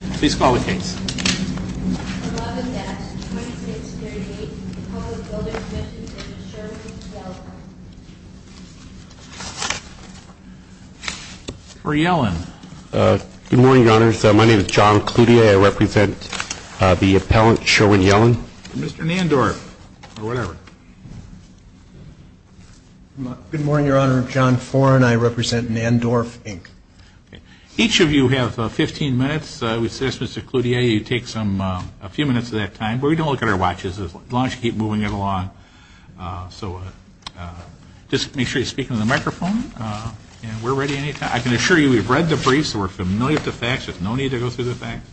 Good morning, your honors. My name is John Cloutier. I represent the appellant Sherwin Yellen. Mr. Nandorf, or whatever. Good morning, your honor. I'm John Foran. I represent Nandorf Inc. Each of you have 15 minutes. I would suggest, Mr. Cloutier, you take a few minutes of that time. But we don't look at our watches as long as you keep moving it along. So just make sure you speak into the microphone. And we're ready any time. I can assure you we've read the briefs, so we're familiar with the facts. There's no need to go through the facts.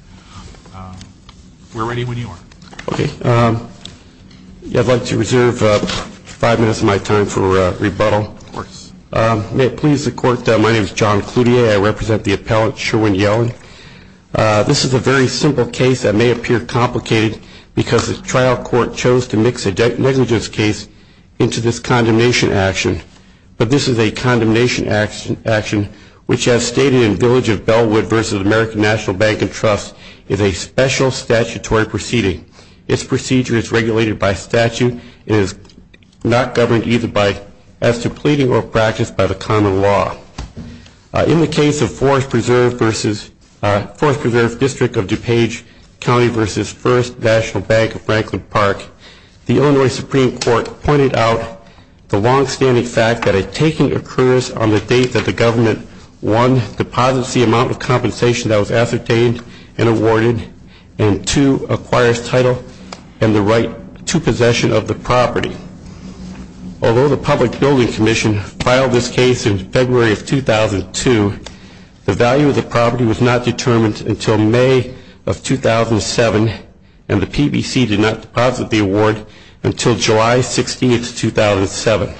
We're ready when you are. Okay. I'd like to reserve five minutes of my time for rebuttal. May it please the court, my name is John Cloutier. I represent the appellant Sherwin Yellen. This is a very simple case that may appear complicated because the trial court chose to mix a negligence case into this condemnation action. But this is a condemnation action which, as stated in Village of Bellwood v. American National Bank and Trust, is a special statutory proceeding. Its procedure is regulated by statute. It is not governed either by, as to pleading or practice by the common law. In the case of Forest Preserve v. Forest Preserve District of DuPage County v. First National Bank of Franklin Park, the Illinois Supreme Court pointed out the longstanding fact that a taking occurs on the date that the government 1. Deposits the amount of compensation that was ascertained and awarded, and 2. Acquires title and the right to possession of the property. Although the Public Building Commission filed this case in February of 2002, the value of the property was not determined until May of 2007, and the PBC did not deposit the award until July 16, 2007.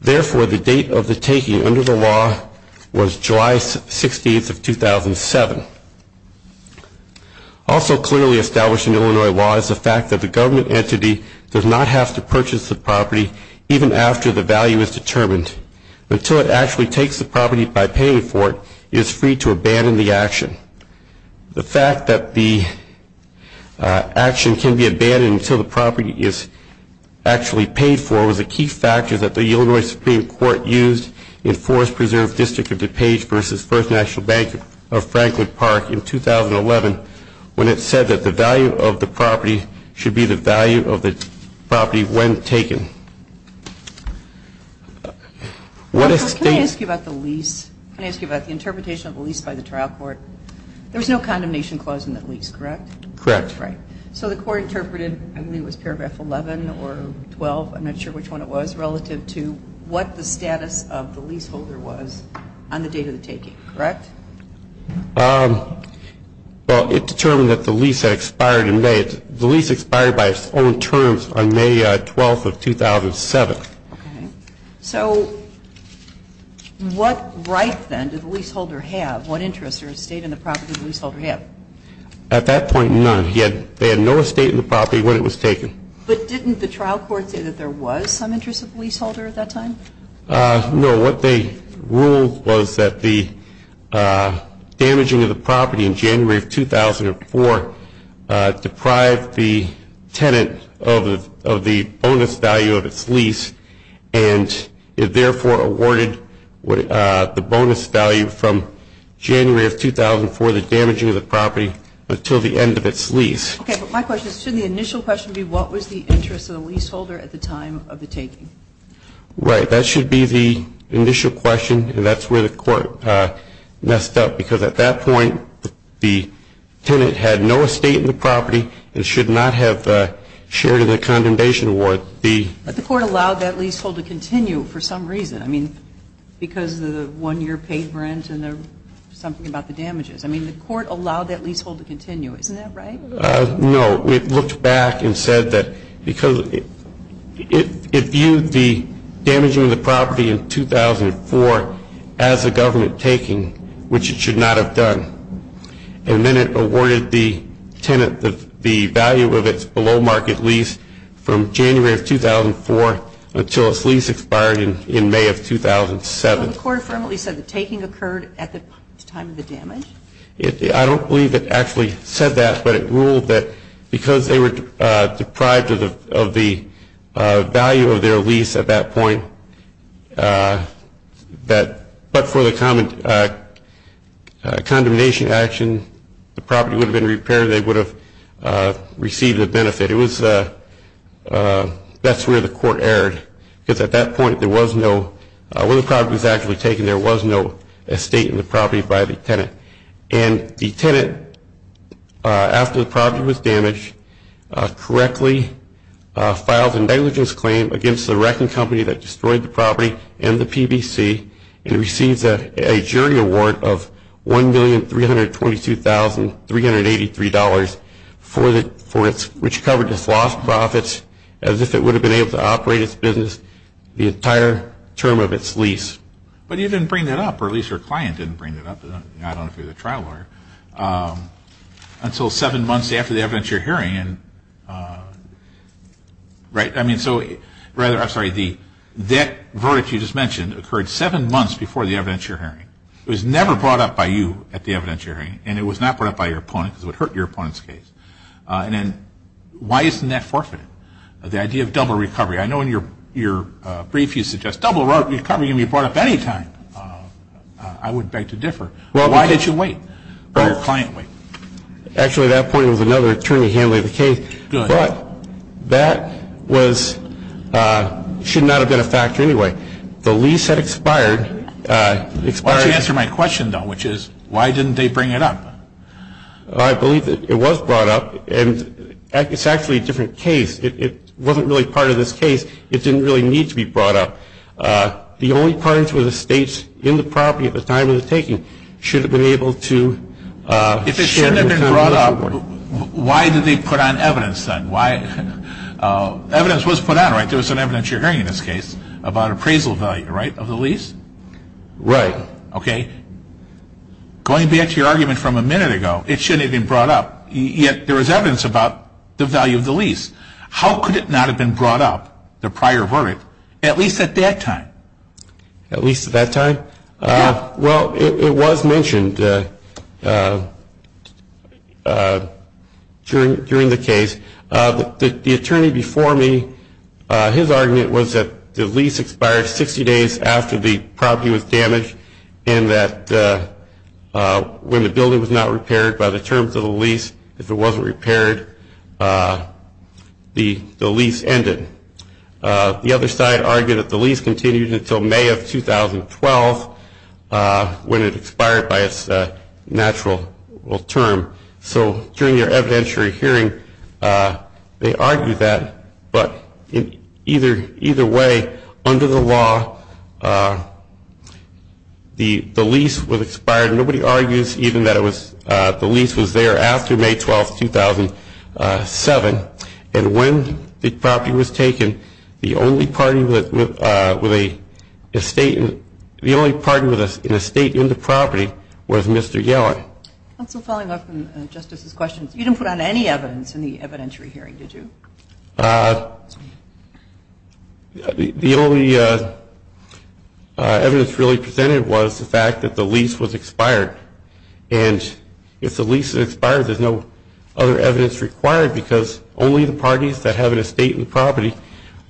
Therefore, the date of possession was not determined until July 16, 2007. Also clearly established in Illinois law is the fact that the government entity does not have to purchase the property even after the value is determined. Until it actually takes the property by paying for it, it is free to abandon the action. The fact that the action can be abandoned until the property is actually paid for was a key factor that the Illinois Supreme Court used in Forest National Bank of Franklin Park in 2011 when it said that the value of the property should be the value of the property when taken. Can I ask you about the lease? Can I ask you about the interpretation of the lease by the trial court? There was no condemnation clause in the lease, correct? Correct. So the court interpreted, I believe it was paragraph 11 or 12, I'm not sure which one it was, relative to what the status of the leaseholder was on the date of the taking, correct? Well, it determined that the lease expired in May. The lease expired by its own terms on May 12, 2007. So what right then did the leaseholder have, what interest or estate in the property did the leaseholder have? At that point, none. They had no estate in the property when it was taken. But didn't the trial court say that there was some interest of the leaseholder at that time? No, what they ruled was that the damaging of the property in January of 2004 deprived the tenant of the bonus value of its lease and it therefore awarded the bonus value from January of 2004, the damaging of the property, until the end of its lease. Okay, but my question is, shouldn't the initial question be what was the interest of the leaseholder at the time of the taking? Right, that should be the initial question and that's where the court messed up because at that point the tenant had no estate in the property and should not have shared in the condemnation award. But the court allowed that leasehold to continue for some reason, I mean, because of the one-year paid rent and something about the damages. I mean, the court allowed that and said that because it viewed the damaging of the property in 2004 as a government taking, which it should not have done, and then it awarded the tenant the value of its below-market lease from January of 2004 until its lease expired in May of 2007. Well, the court affirmably said the taking occurred at the time of the damage. I don't believe it actually said that, but it ruled that because they were deprived of the value of their lease at that point, but for the condemnation action, the property would have been repaired, they would have received a benefit. It was, that's where the court erred because at that point there was no, when the property was actually taken, there was no estate in the property by the tenant. And the tenant, after the property was damaged, correctly filed a negligence claim against the wrecking company that destroyed the property and the PBC and receives a jury award of $1,322,383 for its, which covered its lost profits as if it would have been able to operate its business the entire term of its lease. But you didn't bring that up, or at least your client didn't bring that up, I don't know if you're the trial lawyer, until seven months after the evidence you're hearing. Right, I mean, so rather, I'm sorry, that verdict you just mentioned occurred seven months before the evidence you're hearing. It was never brought up by you at the evidence you're hearing, and it was not brought up by your opponent because it would hurt your opponent's case. And then why isn't that forfeited? The idea of double recovery. I know in your brief you suggest double recovery can be brought up any time. I would beg to differ. Why did you wait? Why did your client wait? Actually, at that point it was another attorney handling the case. But that was, should not have been a factor anyway. The lease had expired. Why don't you answer my question, though, which is, why didn't they bring it up? I believe that it was brought up, and it's actually a different case. It wasn't really to be brought up. The only parties were the states in the property at the time of the taking should have been able to share the time of the report. If it shouldn't have been brought up, why did they put on evidence then? Why? Evidence was put on, right? There was some evidence you're hearing in this case about appraisal value, right, of the lease? Right. Okay. Going back to your argument from a minute ago, it shouldn't have been brought up, yet there was evidence about the value of the lease. How could it not have been brought up, the prior verbiage, at least at that time? At least at that time? Yeah. Well, it was mentioned during the case. The attorney before me, his argument was that the lease expired 60 days after the property was damaged, and that when the building was not repaired by the terms of the lease, if it wasn't repaired, the lease ended. The other side argued that the lease continued until May of 2012 when it expired by its natural term. So during your evidentiary hearing, they argued that, but either way, under the lease was there after May 12th, 2007, and when the property was taken, the only party with an estate in the property was Mr. Yellen. Counsel, following up on Justice's questions, you didn't put on any evidence in the evidentiary hearing, did you? No. The only evidence really presented was the fact that the lease was expired, and if the lease expired, there's no other evidence required because only the parties that have an estate in the property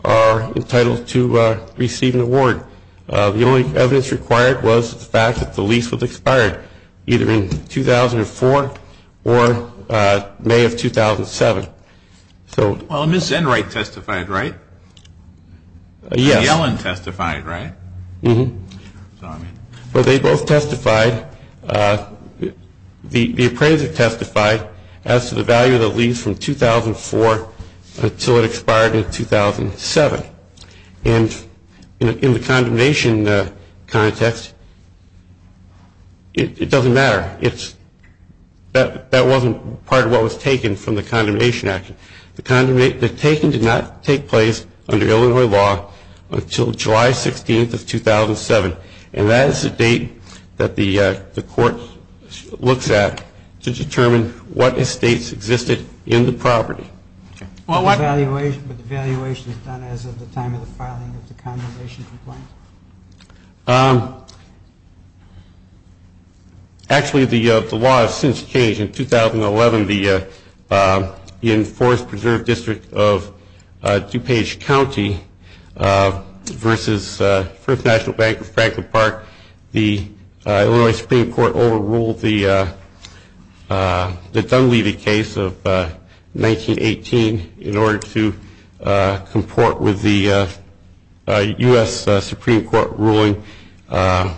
are entitled to receive an award. The only evidence required was the fact that the lease was expired, either in 2004 or May of 2007. Well, Ms. Enright testified, right? Yes. And Yellen testified, right? Mm-hmm. So, I mean... Well, they both testified. The appraiser testified as to the value of the lease from 2004 until it expired in 2007. And in the condemnation context, it doesn't matter. That wasn't part of what was taken from the condemnation action. The taking did not take place under Illinois law until July 16th of 2007, and that is the date that the Court looks at to determine what estates existed in the property. But the valuation is done as of the time of the filing of the condemnation complaint. Actually, the law has since changed. In 2011, the Enforced Preserved District of DuPage County versus First National Bank of Franklin Park, the Illinois Supreme Court overruled the Dunleavy case of 1918 in order to comport with the U.S. Supreme Court's decision to rule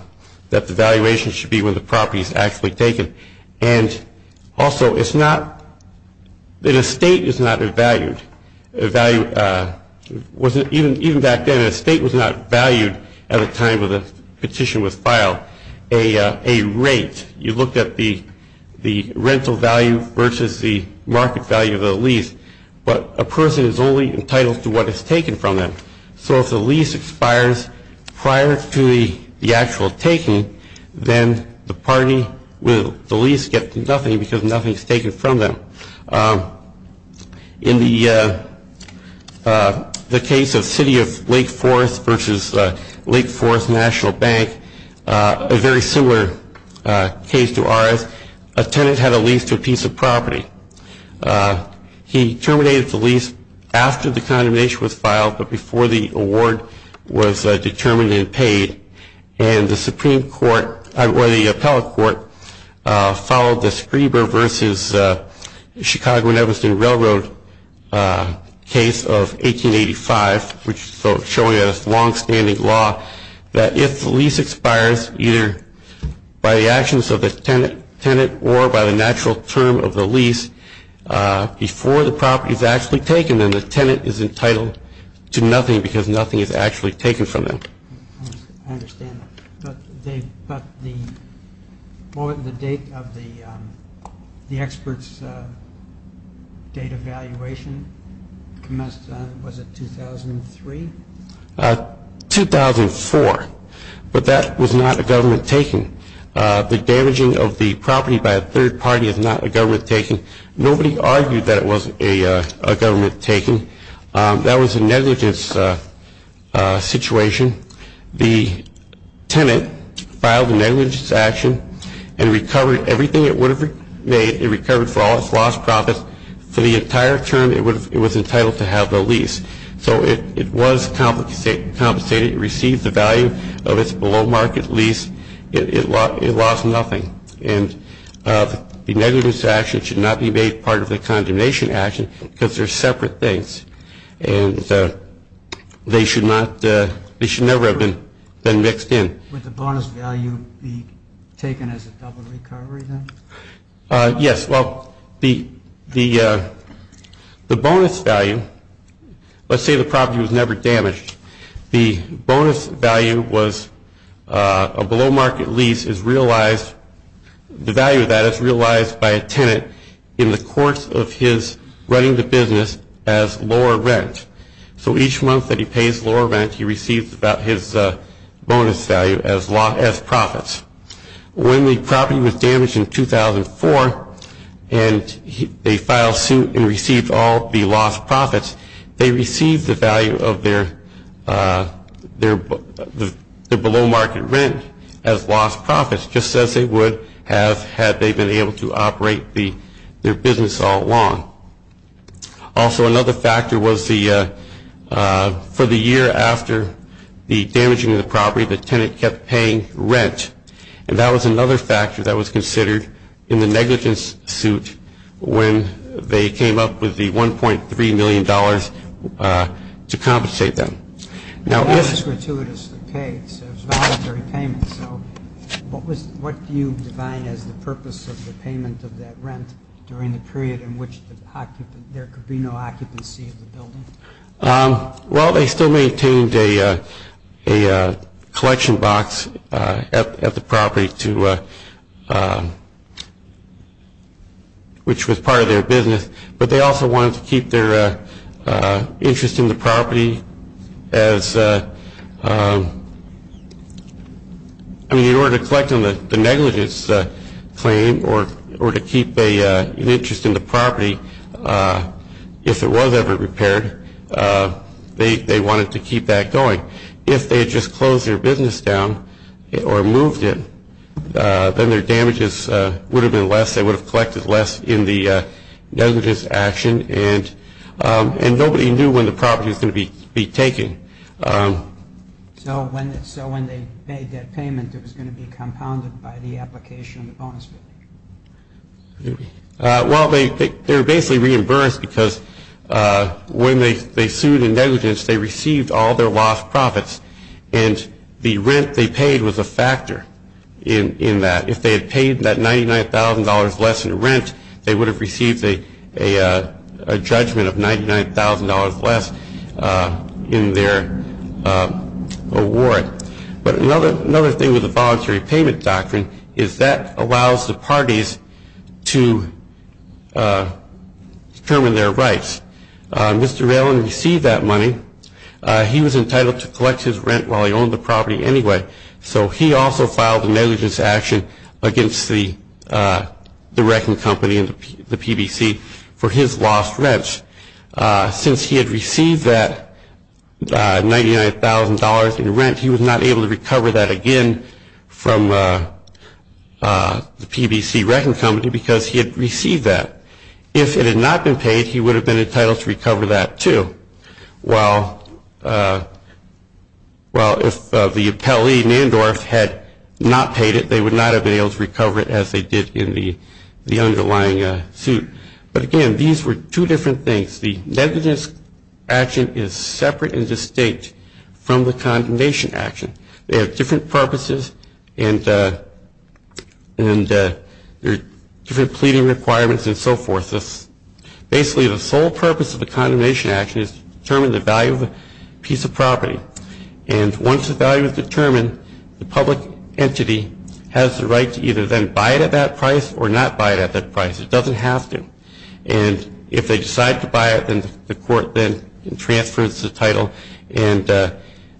that the valuation should be when the property is actually taken. And also, an estate is not evaluated. Even back then, an estate was not valued at the time of the petition was filed. A rate, you looked at the rental value versus the market value of the lease, but a person is only entitled to what is taken from them. So if the lease expires prior to the actual taking, then the party will, the lease gets nothing because nothing is taken from them. In the case of City of Lake Forest versus Lake Forest National Bank, a very similar case to ours, a tenant had a lease to a piece of property. He terminated the lease after the condemnation was filed, but before the award was determined and paid. And the Supreme Court, or the appellate court, followed the Schreber versus Chicago and Evereston Railroad case of 1885, which is showing a longstanding law that if the lease expires either by the actions of the tenant or by the natural term of the lease before the property is actually taken, then the tenant is entitled to nothing because nothing is actually taken from them. I understand. But the date of the expert's date evaluation commenced on, was it 2003? 2004. But that was not a government taking. The damaging of the property by a third party is not a government taking. Nobody argued that it was a government taking. That was a negligence situation. The tenant filed a negligence action and recovered everything it would have made. It recovered for all its lost profits. For the entire term, it was entitled to have the lease. So it was compensated. It received the value of its below market lease. It lost nothing. And the negligence action should not be made part of the condemnation action because they're separate things. And they should never have been mixed in. Would the bonus value be taken as a double recovery, then? Yes. Well, the bonus value, let's say the property was never damaged, the bonus value was a below market lease is realized, the value of that is realized by a tenant in the course of his running the business as lower rent. So each month that he pays lower rent, he receives his bonus value as profits. When the property was damaged in 2004 and they filed suit and received all the lost profits, they received the value of their, the value of their below market rent as lost profits, just as they would have had they been able to operate their business all along. Also, another factor was the, for the year after the damaging of the property, the tenant kept paying rent. And that was another factor that was considered in the negligence suit when they came up with the $1.3 million to compensate them. That was gratuitously paid, so it was voluntary payment. So what was, what do you define as the purpose of the payment of that rent during the period in which the occupant, there could be no occupancy of the building? Well they still maintained a collection box at the property to, which was part of their business, but they also wanted to keep their interest in the property as, I mean in order to collect on the negligence claim or to keep an interest in the property if it was ever repaired, they wanted to keep that going. If they had just closed their business down or moved it, then their damages would have been less, they would have collected less in the negligence action, and nobody knew when the property was going to be taken. So when they made that payment, it was going to be compounded by the application of the bonus payment? Well, they were basically reimbursed because when they sued in negligence, they received all their lost profits, and the rent they paid was a factor in that. If they had paid that $99,000 less in rent, they would have received a judgment of $99,000 less in their award. But another thing with the voluntary payment doctrine is that allows the parties to determine their rights. Mr. Valen received that money. He was entitled to collect his rent while he owned the property anyway, so he also filed a negligence action against the wrecking company and the PBC for his lost rents. Since he had received that $99,000 in rent, he was not able to recover that again from the PBC wrecking company because he had received that. If it had not been paid, he would have been entitled to recover that, too. While if the appellee, Nandorf, had not paid it, they would not have been able to recover it as they did in the underlying suit. But again, these were two different things. The negligence action is separate and distinct from the condemnation action. They have different purposes, and there are different pleading requirements and so forth. Basically, the sole purpose of the condemnation action is to determine the value of a piece of property. And once the value is determined, the public entity has the right to either then buy it at that price or not buy it at that price. It doesn't have to. And if they decide to buy it, then the court then transfers the title and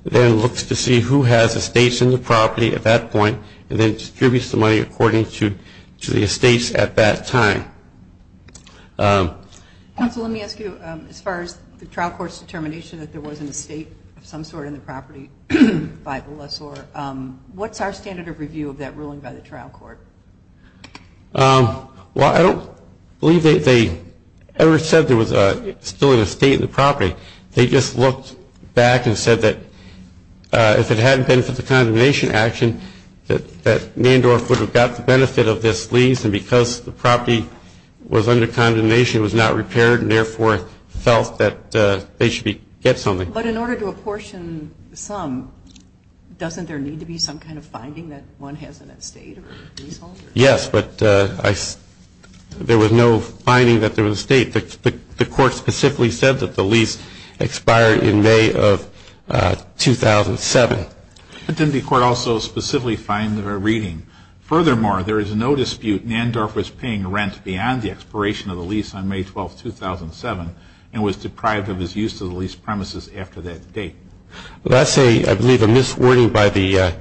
then looks to see who has estates in the property at that point and then distributes the money according to the estates at that time. Counsel, let me ask you, as far as the trial court's determination that there was an estate of some sort in the property by the lessor, what's our standard of review of that ruling by the trial court? Well, I don't believe they ever said there was still an estate in the property. They just looked back and said that if it hadn't been for the condemnation action that Nandorf would have got the benefit of this lease and because the property was under condemnation it was not repaired and therefore felt that they should get something. But in order to apportion some, doesn't there need to be some kind of finding that one has an estate or leasehold? Yes, but there was no finding that there was an estate. The court specifically said that the lease expired in May of 2007. But didn't the court also specifically find a reading, furthermore, there is no dispute Nandorf was paying rent beyond the expiration of the lease on May 12, 2007 and was deprived of his use of the lease premises after that date. Well, that's a, I believe, a miswording by the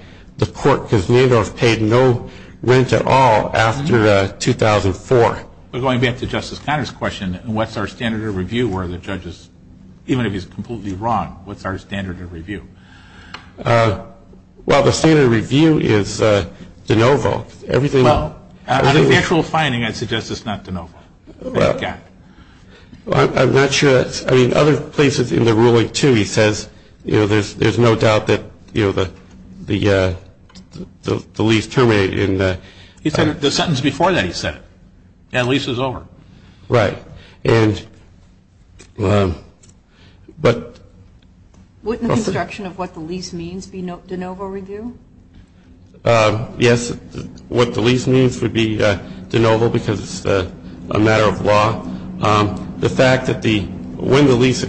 court because Nandorf paid no rent at all after 2004. But going back to Justice Conner's question, what's our standard of review where the judge is, even if he's completely wrong, what's our standard of review? Well, the standard of review is de novo. Well, out of the actual finding, I'd suggest it's not de novo. I'm not sure, I mean, other places in the ruling, too, he says, you know, there's no doubt that, you know, the lease terminated in the He said it, the sentence before that he said it. That lease is over. Right. And, but Wouldn't the construction of what the lease means be de novo review? Yes, what the lease means would be de novo because it's a matter of law. The fact that the, when the lease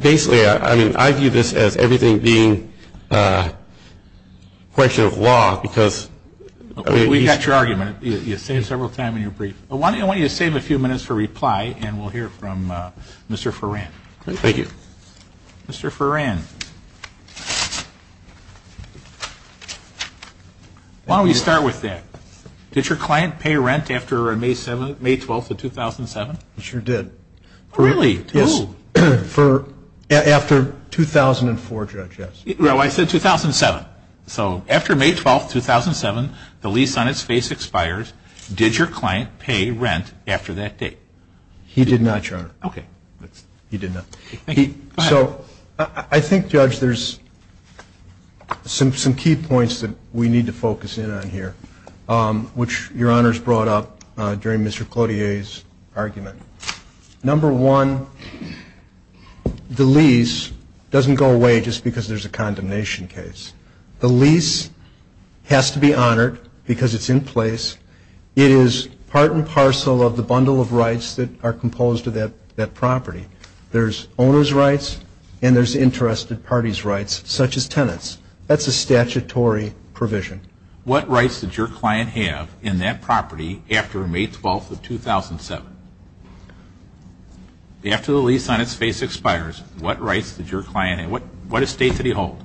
Basically, I mean, I view this as everything being a question of law because We've got your argument. You say it several times in your brief. I want you to save a few minutes for reply, and we'll hear from Mr. Foran. Thank you, Mr. Foran. Why don't we start with that? Did your client pay rent after May 7th, May 12th of 2007? He sure did. After 2004, Judge, yes. No, I said 2007. So after May 12th, 2007, the lease on its face expires. Did your client pay rent after that date? He did not, Your Honor. Okay. So I think, Judge, there's some key points that we need to focus in on here, which Your Honor's brought up during Mr. Cloutier's argument. Number one, the lease doesn't go away just because there's a condemnation case. The lease has to be honored because it's in place. It is part and parcel of the bundle of rights that are composed of that property. There's owner's rights, and there's interested parties' rights, such as tenants. That's a statutory provision. What rights did your client have in that property after May 12th of 2007? After the lease on its face expires, what rights did your client have? What estate did he hold?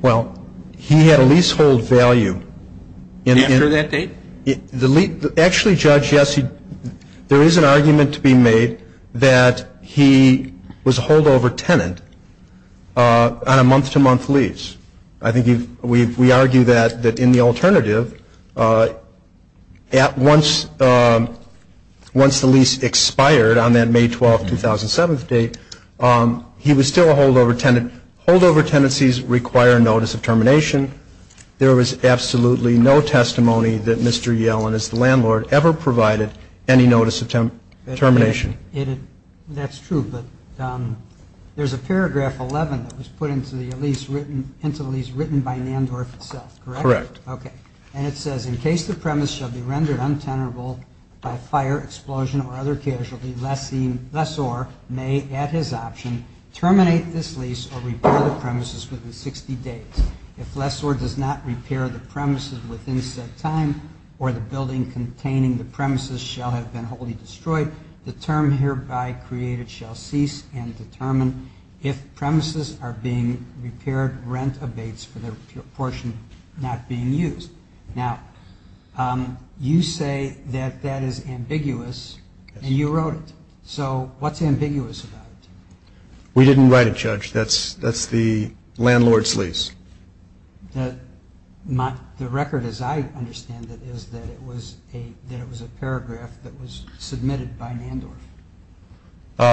Well, he had a leasehold value. After that date? Actually, Judge, yes. There is an argument to be made that he was a holdover tenant on a month-to-month lease. I think we argue that in the alternative, once the lease expired on that May 12th, 2007 date, he was still a holdover tenant. Holdover tenancies require notice of termination. There was absolutely no testimony that Mr. Yellen, as the landlord, ever provided any notice of termination. That's true, but there's a paragraph 11 that was put into the lease written by Nandorf himself, correct? Correct. And it says, in case the premise shall be rendered untenable by fire, explosion, or other casualty, lessor may, at his option, terminate this lease or repair the premises within 60 days. If lessor does not repair the premises within said time, or the building containing the premises shall have been wholly destroyed, the term hereby created shall cease and determine if premises are being repaired, rent abates for the portion not being used. Now, you say that that is ambiguous, and you wrote it. So what's ambiguous about it? We didn't write it, Judge. That's the landlord's lease. The record, as I understand it, is that it was a paragraph that was submitted by Nandorf.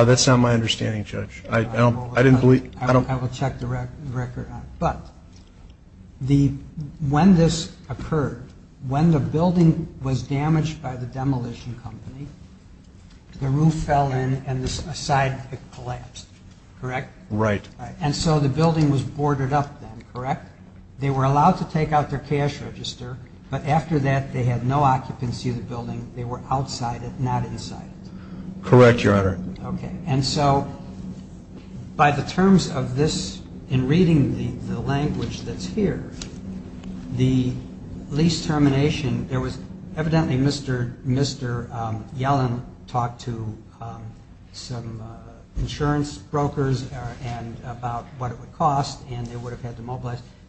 That's not my understanding, Judge. I will check the record. But when this occurred, when the building was damaged by the demolition company, the roof fell in and a side collapsed, correct? Right. And so the building was boarded up then, correct? They were allowed to take out their cash register, but after that they had no occupancy of the building. They were outside it, not inside it. Correct, Your Honor. And so by the terms of this, in reading the language that's here, the lease termination, there was evidently Mr. Yellen talked to some insurance brokers about what it would cost,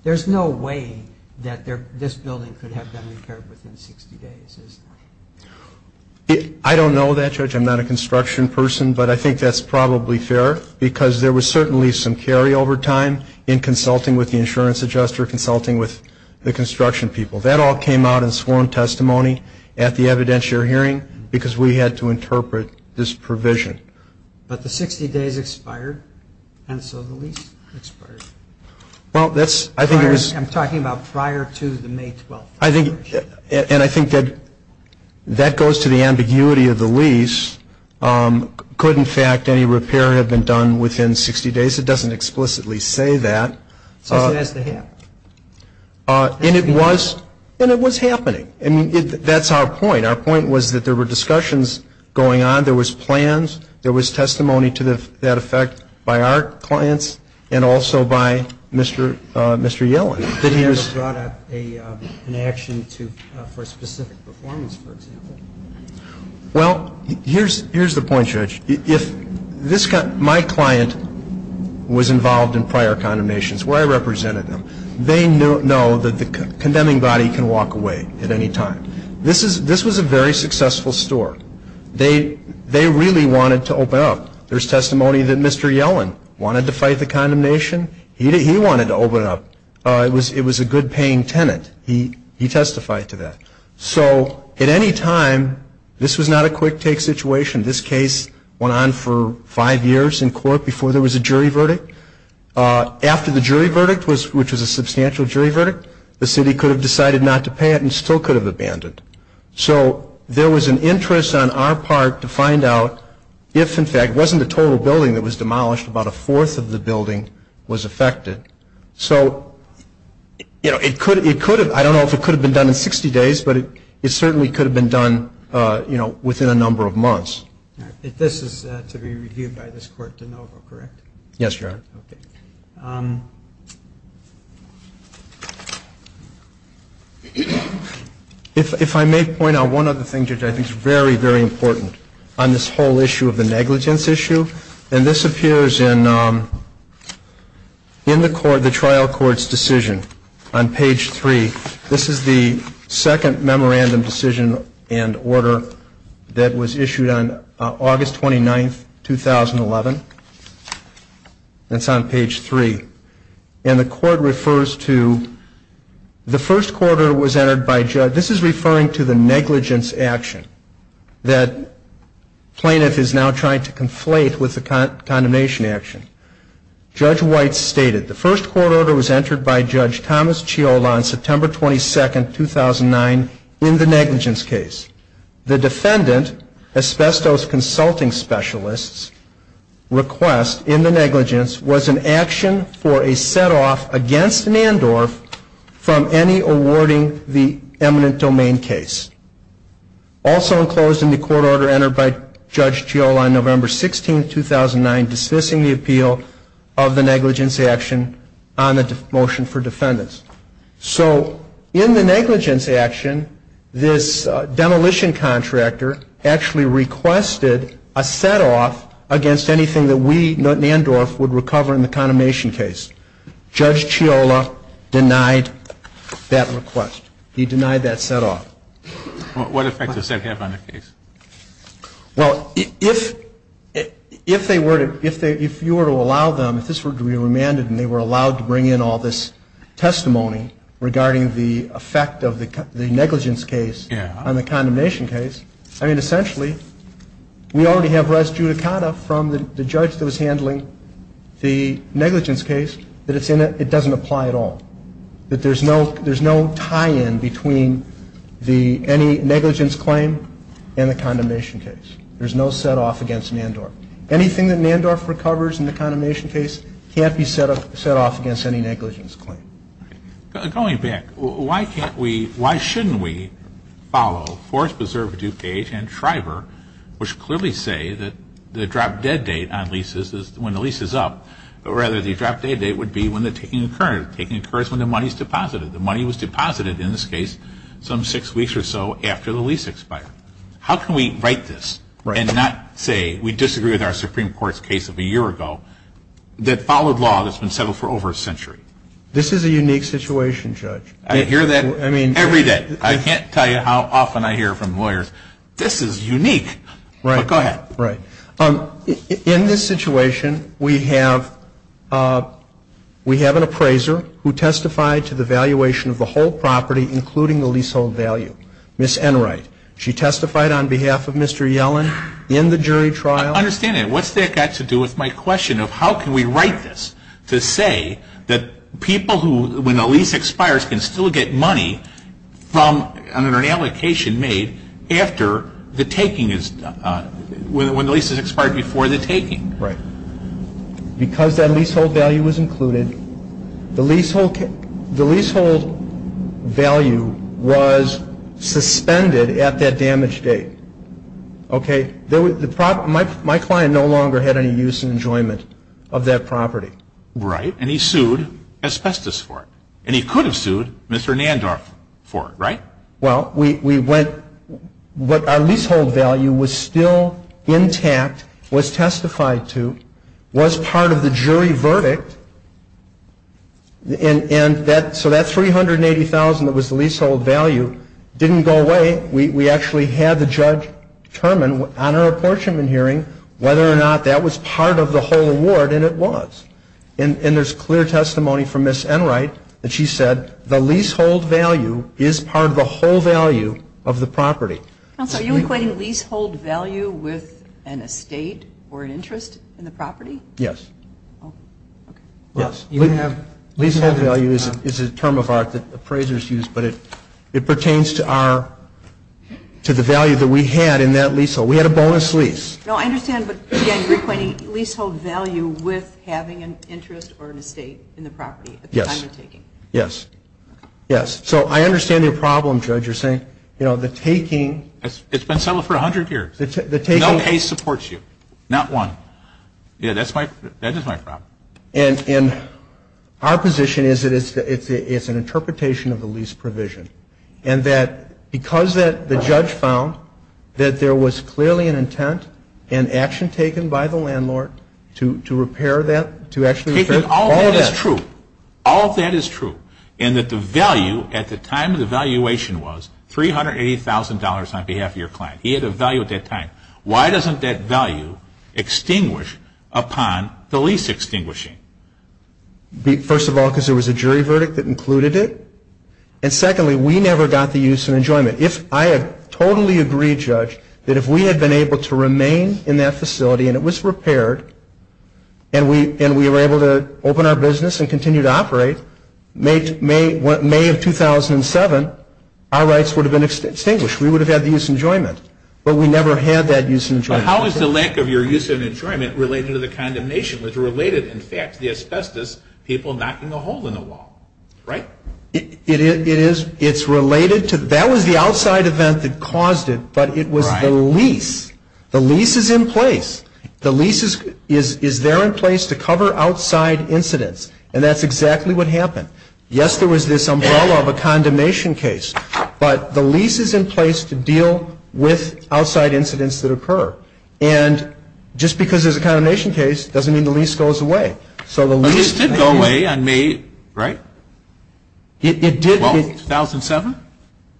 there's no way that this building could have been repaired within 60 days, is there? I don't know that, Judge. I'm not a construction person, but I think that's probably fair, because there was certainly some carryover time in consulting with the insurance adjuster, consulting with the construction people. That all came out in sworn testimony at the evidentiary hearing, because we had to interpret this provision. But the 60 days expired, and so the lease expired. I'm talking about prior to the May 12th. And I think that goes to the ambiguity of the lease. Could, in fact, any repair have been done within 60 days? It doesn't explicitly say that. Since it has to happen. And it was happening. That's our point. Our point was that there were discussions going on, there was plans, there was testimony to that effect by our clients, and also by Mr. Yellen. Did he ever brought up an action for specific performance, for example? Well, here's the point, Judge. If my client was involved in prior condemnations where I represented them, they know that the condemning body can walk away at any time. This was a very successful store. They really wanted to open up. There's testimony that Mr. Yellen wanted to fight the condemnation. He wanted to open up. It was a good paying tenant. He testified to that. So at any time, this was not a quick take situation. This case went on for five years in court before there was a jury verdict. After the jury verdict, which was a substantial jury verdict, the city could have decided not to pay it and still could have abandoned. So there was an interest on our part to find out if, in fact, it wasn't a total building that was demolished, about a fourth of the building was affected. So it could have, I don't know if it could have been done in 60 days, but it certainly could have been done within a number of months. If this is to be reviewed by this court de novo, correct? Yes, Your Honor. If I may point out one other thing, Judge, I think it's very, very important on this whole issue of the negligence issue. And this appears in the trial court's decision on page 3. This is the second memorandum decision and order that was issued on August 29, 2011. It's on page 3. And the court refers to the first court order was entered by Judge, this is referring to the negligence action that plaintiff is now trying to conflate with the condemnation action. Judge White stated, the first court order was entered by Judge Thomas Chiola on September 22, 2009 in the negligence case. The defendant, asbestos consulting specialists, request in the negligence was an action for a set-off against Nandorf from any awarding the eminent domain case. Also enclosed in the court order entered by Judge Chiola on November 16, 2009, dismissing the appeal of the negligence action on the motion for defendants. So in the negligence action, this demolition contractor actually requested a set-off against anything that we, Nandorf, would recover in the condemnation case. Judge Chiola denied that request. He denied that set-off. The court has not yet made any decision whether to issue a remand. What effect does that have on the case? Well, if they were to — if you were to allow them, if this were to be remanded and they were allowed to bring in all this testimony regarding the effect of the negligence case on the condemnation case, I mean, essentially, we already have res judicata from the judge that was handling the negligence case that it doesn't apply at all, that there's no tie-in between any negligence claim and the condemnation case. There's no set-off against Nandorf. Anything that Nandorf recovers in the condemnation case can't be set off against any negligence claim. Going back, why can't we — why shouldn't we follow Forest Preserve, DuPage and Shriver, which clearly say that the drop-dead date on leases is when the lease is up, but rather the drop-dead date would be when the taking occurs. The taking occurs when the money is deposited. The money was deposited, in this case, some six weeks or so after the lease expired. How can we write this and not say we disagree with our Supreme Court's case of a year ago that followed law that's been settled for over a century? This is a unique situation, Judge. I hear that every day. I can't tell you how often I hear from lawyers, this is unique. But go ahead. Right. In this situation, we have an appraiser who testified to the valuation of the whole property, including the leasehold value, Ms. Enright. She testified on behalf of Mr. Yellen in the jury trial. I understand that. What's that got to do with my question of how can we write this to say that people who, when the lease expires, can still get money from an allocation made after the taking is done, when the lease has expired before the taking? Right. Because that leasehold value was included, the leasehold value was suspended at that damage date. Okay. My client no longer had any use and enjoyment of that property. Right. And he sued asbestos for it. And he could have sued Mr. Nandorf for it, right? Well, we went, what our leasehold value was still intact, was testified to, was part of the jury verdict. And so that $380,000 that was the leasehold value didn't go away. We actually had the judge determine on our apportionment hearing whether or not that was part of the whole award, and it was. And there's clear testimony from Ms. Enright that she said, the leasehold value is part of the whole value of the property. Are you equating leasehold value with an estate or an interest in the property? Yes. Leasehold value is a term of art that appraisers use, but it pertains to the value that we had in that leasehold. We had a bonus lease. No, I understand, but again, you're equating leasehold value with having an interest or an estate in the property at the time of taking. Yes. Yes. So I understand your problem, Judge, you're saying, you know, the taking. It's been settled for 100 years. No case supports you. Not one. Yeah, that is my problem. And our position is that it's an interpretation of the lease provision, and that because the judge found that there was clearly an intent and action taken by the landlord to repair that, to actually repair all of that. All of that is true. All of that is true, and that the value at the time of the valuation was $380,000 on behalf of your client. He had a value at that time. Why doesn't that value extinguish upon the lease extinguishing? First of all, because there was a jury verdict that included it. And secondly, we never got the use and enjoyment. I have totally agreed, Judge, that if we had been able to remain in that facility and it was repaired, and we were able to open our business and continue to operate, May of 2007, our rights would have been extinguished. We would have had the use and enjoyment. But we never had that use and enjoyment. How is the lack of your use and enjoyment related to the condemnation? In fact, the asbestos people knocking a hole in the wall, right? It's related to that was the outside event that caused it, but it was the lease. The lease is in place. The lease is there in place to cover outside incidents, and that's exactly what happened. Yes, there was this umbrella of a condemnation case, but the lease is in place to deal with outside incidents that occur. And just because there's a condemnation case doesn't mean the lease goes away. But it did go away on May, right? It did. Well, 2007?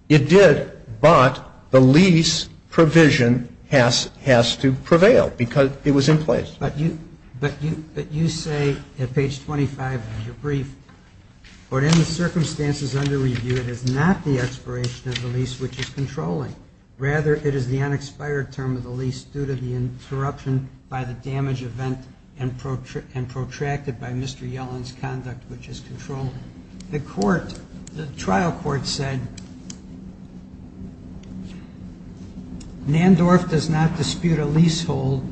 It did, but the lease provision has to prevail because it was in place. But you say at page 25 of your brief, or in the circumstances under review it is not the expiration of the lease which is controlling. Rather, it is the unexpired term of the lease due to the interruption by the damage event and protracted by Mr. Yellen's conduct, which is controlling. The trial court said Nandorf does not dispute a leasehold,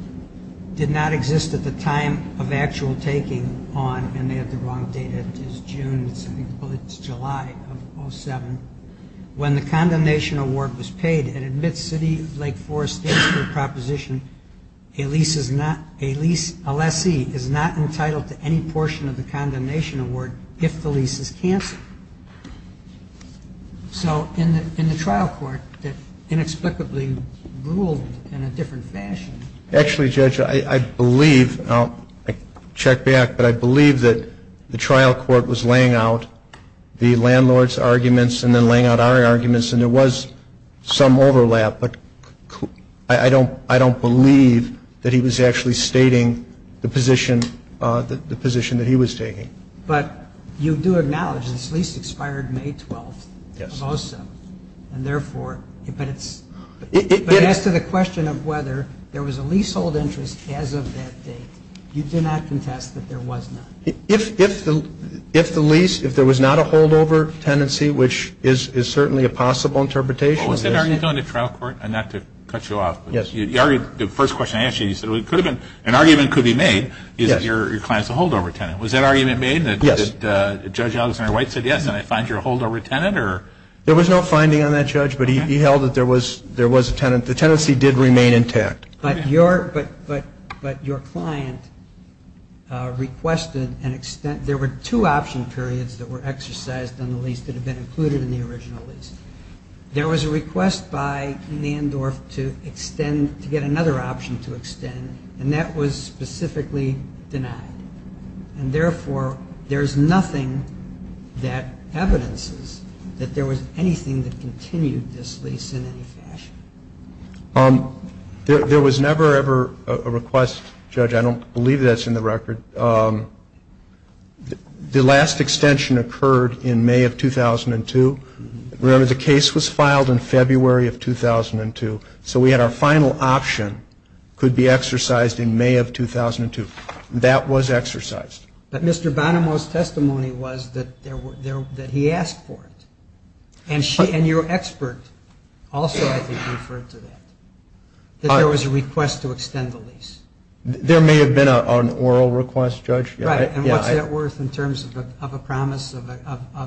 did not exist at the time of actual taking on, and they have the wrong date. It is June. I think it's July of 2007. gave a trial court a lease of $20,000. When the condemnation award was paid, it admits City Lake Forest District proposition a lease is not, a lease, a lessee, is not entitled to any portion of the condemnation award if the lease is canceled. So in the trial court, it inexplicably ruled in a different fashion. Actually, Judge, I believe, I'll check back, but I believe that the trial court was laying out the landlord's arguments and then laying out our arguments, and there was some overlap, but I don't believe that he was actually stating the position that he was taking. But you do acknowledge this lease expired May 12th of 2007, and therefore, but as to the question of whether there was a leasehold interest as of that date, you do not contest that there was not. If the lease, if there was not a holdover tenancy, which is certainly a possible interpretation. Was that argument in the trial court? And not to cut you off, but the first question I asked you, you said an argument could be made, is that your client is a holdover tenant. Was that argument made? Yes. Judge Alexander White said yes, and I find you're a holdover tenant, or? There was no finding on that, Judge, but he held that there was a tenant. The tenancy did remain intact. But your client requested an extent. There were two option periods that were exercised on the lease that had been included in the original lease. And that was specifically denied. And therefore, there's nothing that evidences that there was anything that continued this lease in any fashion. There was never, ever a request, Judge, I don't believe that's in the record. The last extension occurred in May of 2002. Remember, the case was filed in February of 2002. So we had our final option could be exercised in May of 2002. That was exercised. But Mr. Bonomo's testimony was that he asked for it. And your expert also, I think, referred to that, that there was a request to extend the lease. There may have been an oral request, Judge. Right. And what's that worth in terms of a promise of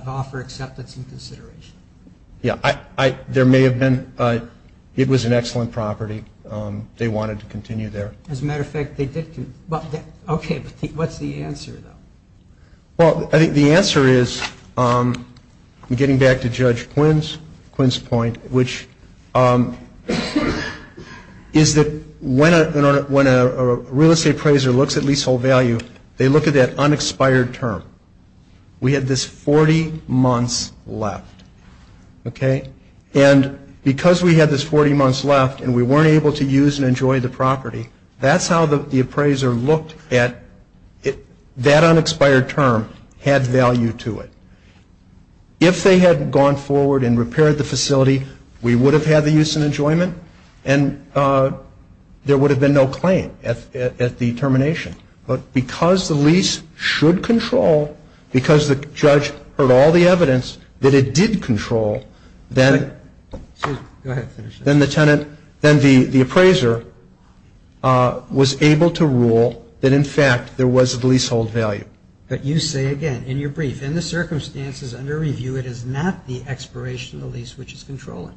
offer, acceptance, and consideration? Yeah, there may have been. It was an excellent property. They wanted to continue there. As a matter of fact, they did. Okay, but what's the answer, though? Well, I think the answer is, getting back to Judge Quinn's point, which is that when a real estate appraiser looks at leasehold value, they look at that unexpired term. We had this 40 months left, okay? And because we had this 40 months left and we weren't able to use and enjoy the property, that's how the appraiser looked at that unexpired term had value to it. If they had gone forward and repaired the facility, we would have had the use and enjoyment, and there would have been no claim at the termination. But because the lease should control, because the judge heard all the evidence that it did control, then the tenant, then the appraiser was able to rule that, in fact, there was a leasehold value. But you say again in your brief, in the circumstances under review, it is not the expiration of the lease which is controlling.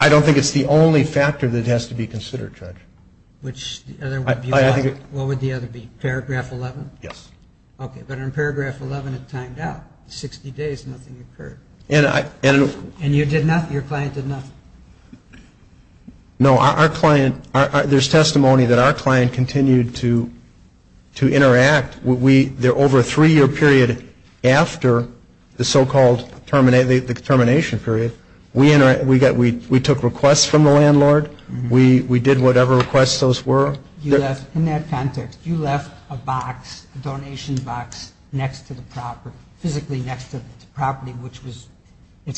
I don't think it's the only factor that has to be considered, Judge. What would the other be? Paragraph 11? Yes. Okay, but in Paragraph 11 it timed out. 60 days, nothing occurred. And you did nothing? Your client did nothing? No, our client, there's testimony that our client continued to interact. Over a three-year period after the so-called termination period, we took requests from the landlord. We did whatever requests those were. In that context, you left a box, a donation box, next to the property, physically next to the property, which was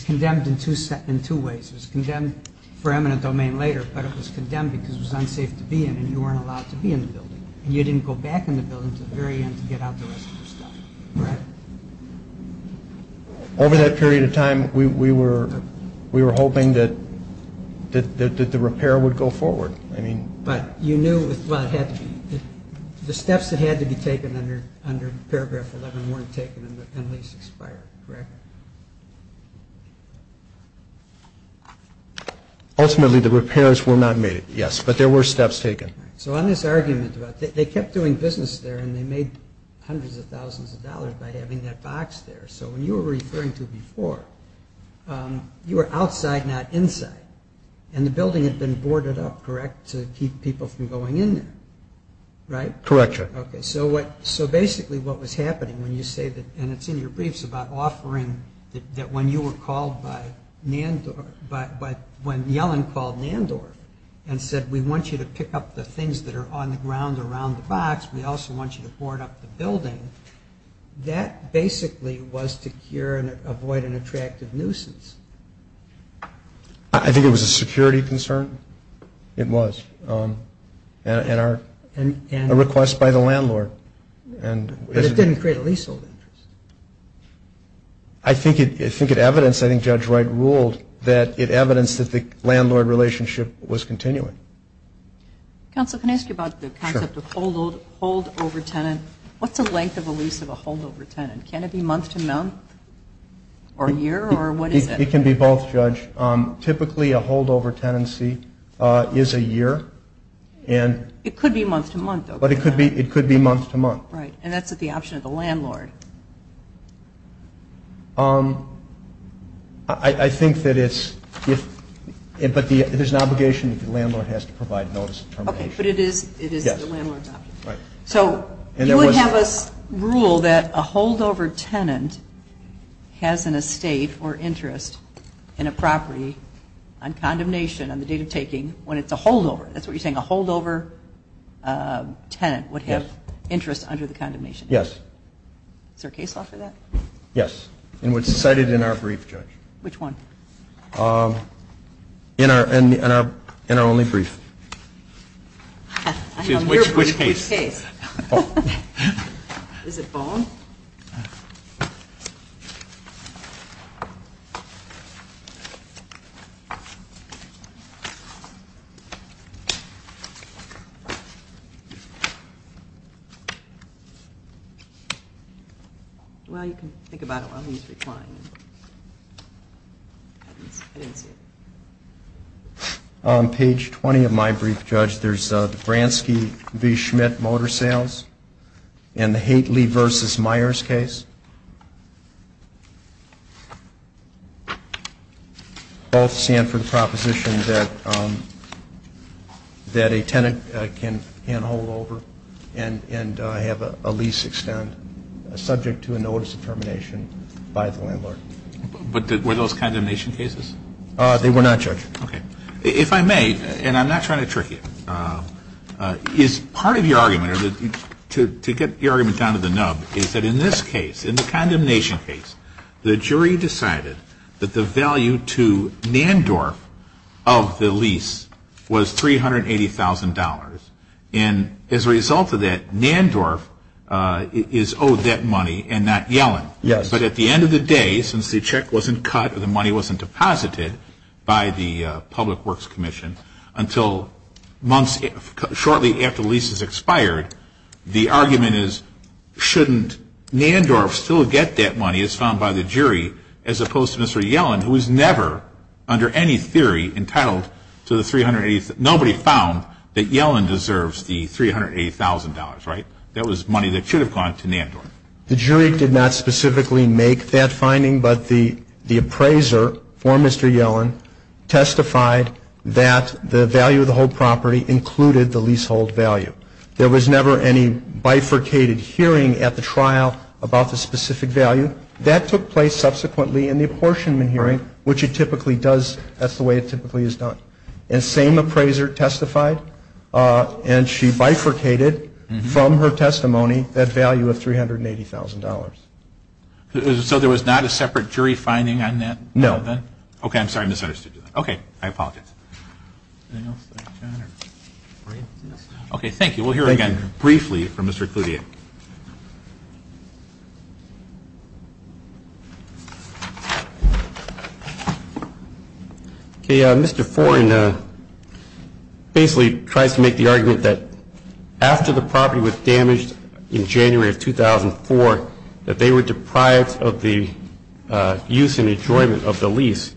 condemned in two ways. It was condemned for eminent domain later, but it was condemned because it was unsafe to be in and you weren't allowed to be in the building. And you didn't go back in the building until the very end to get out the rest of the stuff, right? Over that period of time, we were hoping that the repair would go forward. But you knew it had to be. The steps that had to be taken under Paragraph 11 weren't taken and the lease expired, correct? Ultimately, the repairs were not made, yes, but there were steps taken. So on this argument, they kept doing business there and they made hundreds of thousands of dollars by having that box there. So when you were referring to before, you were outside, not inside, and the building had been boarded up, correct, to keep people from going in there, right? Correct, yes. Okay, so basically what was happening when you say that, and it's in your briefs, that when you were called by Nandor, when Yellen called Nandor and said, we want you to pick up the things that are on the ground around the box, we also want you to board up the building, that basically was to cure and avoid an attractive nuisance. I think it was a security concern. But it didn't create a leasehold interest. I think it evidenced, I think Judge Wright ruled, that it evidenced that the landlord relationship was continuing. Counsel, can I ask you about the concept of holdover tenant? What's the length of a lease of a holdover tenant? Can it be month to month or year or what is it? It can be both, Judge. Typically, a holdover tenancy is a year. It could be month to month. But it could be month to month. Right, and that's at the option of the landlord. I think that it's, but there's an obligation if the landlord has to provide notice of termination. Okay, but it is the landlord's option. Right. So you would have us rule that a holdover tenant has an estate or interest in a property on condemnation, on the date of taking, when it's a holdover. That's what you're saying, a holdover tenant would have interest under the condemnation. Yes. Is there a case law for that? Yes, and it's cited in our brief, Judge. Which one? In our only brief. Which case? Is it Boehm? Well, you can think about it while he's reclining. I didn't see it. On page 20 of my brief, Judge, there's the Bransky v. Schmidt motor sales and the Haitley v. Myers case. Both stand for the proposition that a tenant can hand a holdover and have a lease extend, subject to a notice of termination by the landlord. But were those condemnation cases? They were not, Judge. Okay. If I may, and I'm not trying to trick you, is part of your argument, or to get your argument down to the nub, is that in this case, in the condemnation case, the jury decided that the value to Nandorf of the lease was $380,000. And as a result of that, Nandorf is owed that money and not Yellen. Yes. But at the end of the day, since the check wasn't cut or the money wasn't deposited by the Public Works Commission, until shortly after the lease has expired, the argument is shouldn't Nandorf still get that money, as found by the jury, as opposed to Mr. Yellen, who is never, under any theory, entitled to the $380,000. They found that Yellen deserves the $380,000, right? That was money that should have gone to Nandorf. The jury did not specifically make that finding, but the appraiser for Mr. Yellen testified that the value of the whole property included the leasehold value. There was never any bifurcated hearing at the trial about the specific value. That took place subsequently in the apportionment hearing, which it typically does. That's the way it typically is done. And the same appraiser testified, and she bifurcated from her testimony that value of $380,000. So there was not a separate jury finding on that? No. Okay. I'm sorry. I misunderstood. Okay. I apologize. Okay. Thank you. We'll hear again briefly from Mr. Cloutier. Okay. Mr. Foran basically tries to make the argument that after the property was damaged in January of 2004, that they were deprived of the use and enjoyment of the lease.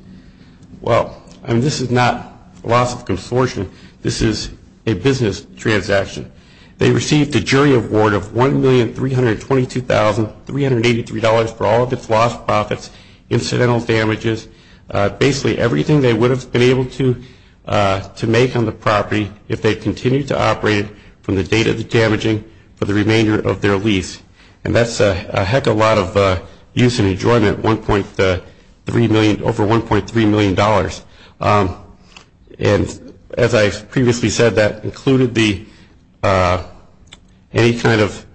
Well, this is not a loss of consortium. This is a business transaction. They received a jury award of $1,322,383 for all of its lost profits, incidental damages, basically everything they would have been able to make on the property if they continued to operate from the date of the damaging for the remainder of their lease. And that's a heck of a lot of use and enjoyment, over $1.3 million. And as I previously said, that included the benefit of any kind of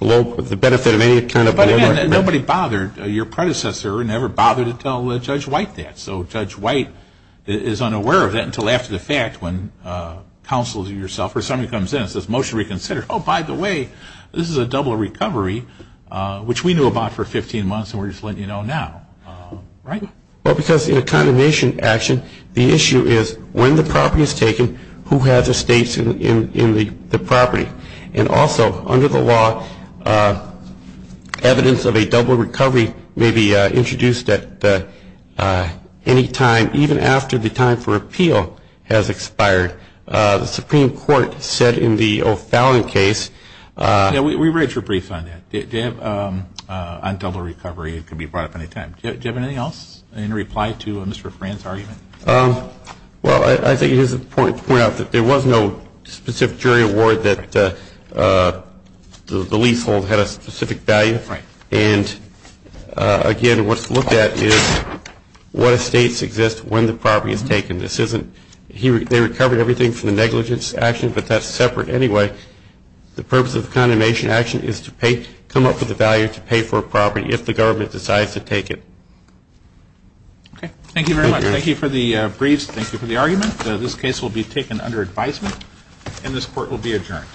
blowback. But again, nobody bothered. Your predecessor never bothered to tell Judge White that. So Judge White is unaware of that until after the fact when counsel to yourself or somebody comes in and says, motion to reconsider. Oh, by the way, this is a double recovery, which we knew about for 15 months, and we're just letting you know now. Right? Well, because in a condemnation action, the issue is when the property is taken, who has estates in the property? And also, under the law, evidence of a double recovery may be introduced at any time, even after the time for appeal has expired. The Supreme Court said in the O'Fallon case. Yeah, we read your brief on that, on double recovery. It can be brought up any time. Do you have anything else in reply to Mr. Fran's argument? Well, I think it is important to point out that there was no specific jury award that the leasehold had a specific value. Right. And again, what's looked at is what estates exist when the property is taken. This isn't they recovered everything from the negligence action, but that's separate anyway. The purpose of the condemnation action is to come up with a value to pay for a property if the government decides to take it. Okay. Thank you very much. Thank you for the briefs. Thank you for the argument. This case will be taken under advisement, and this court will be adjourned.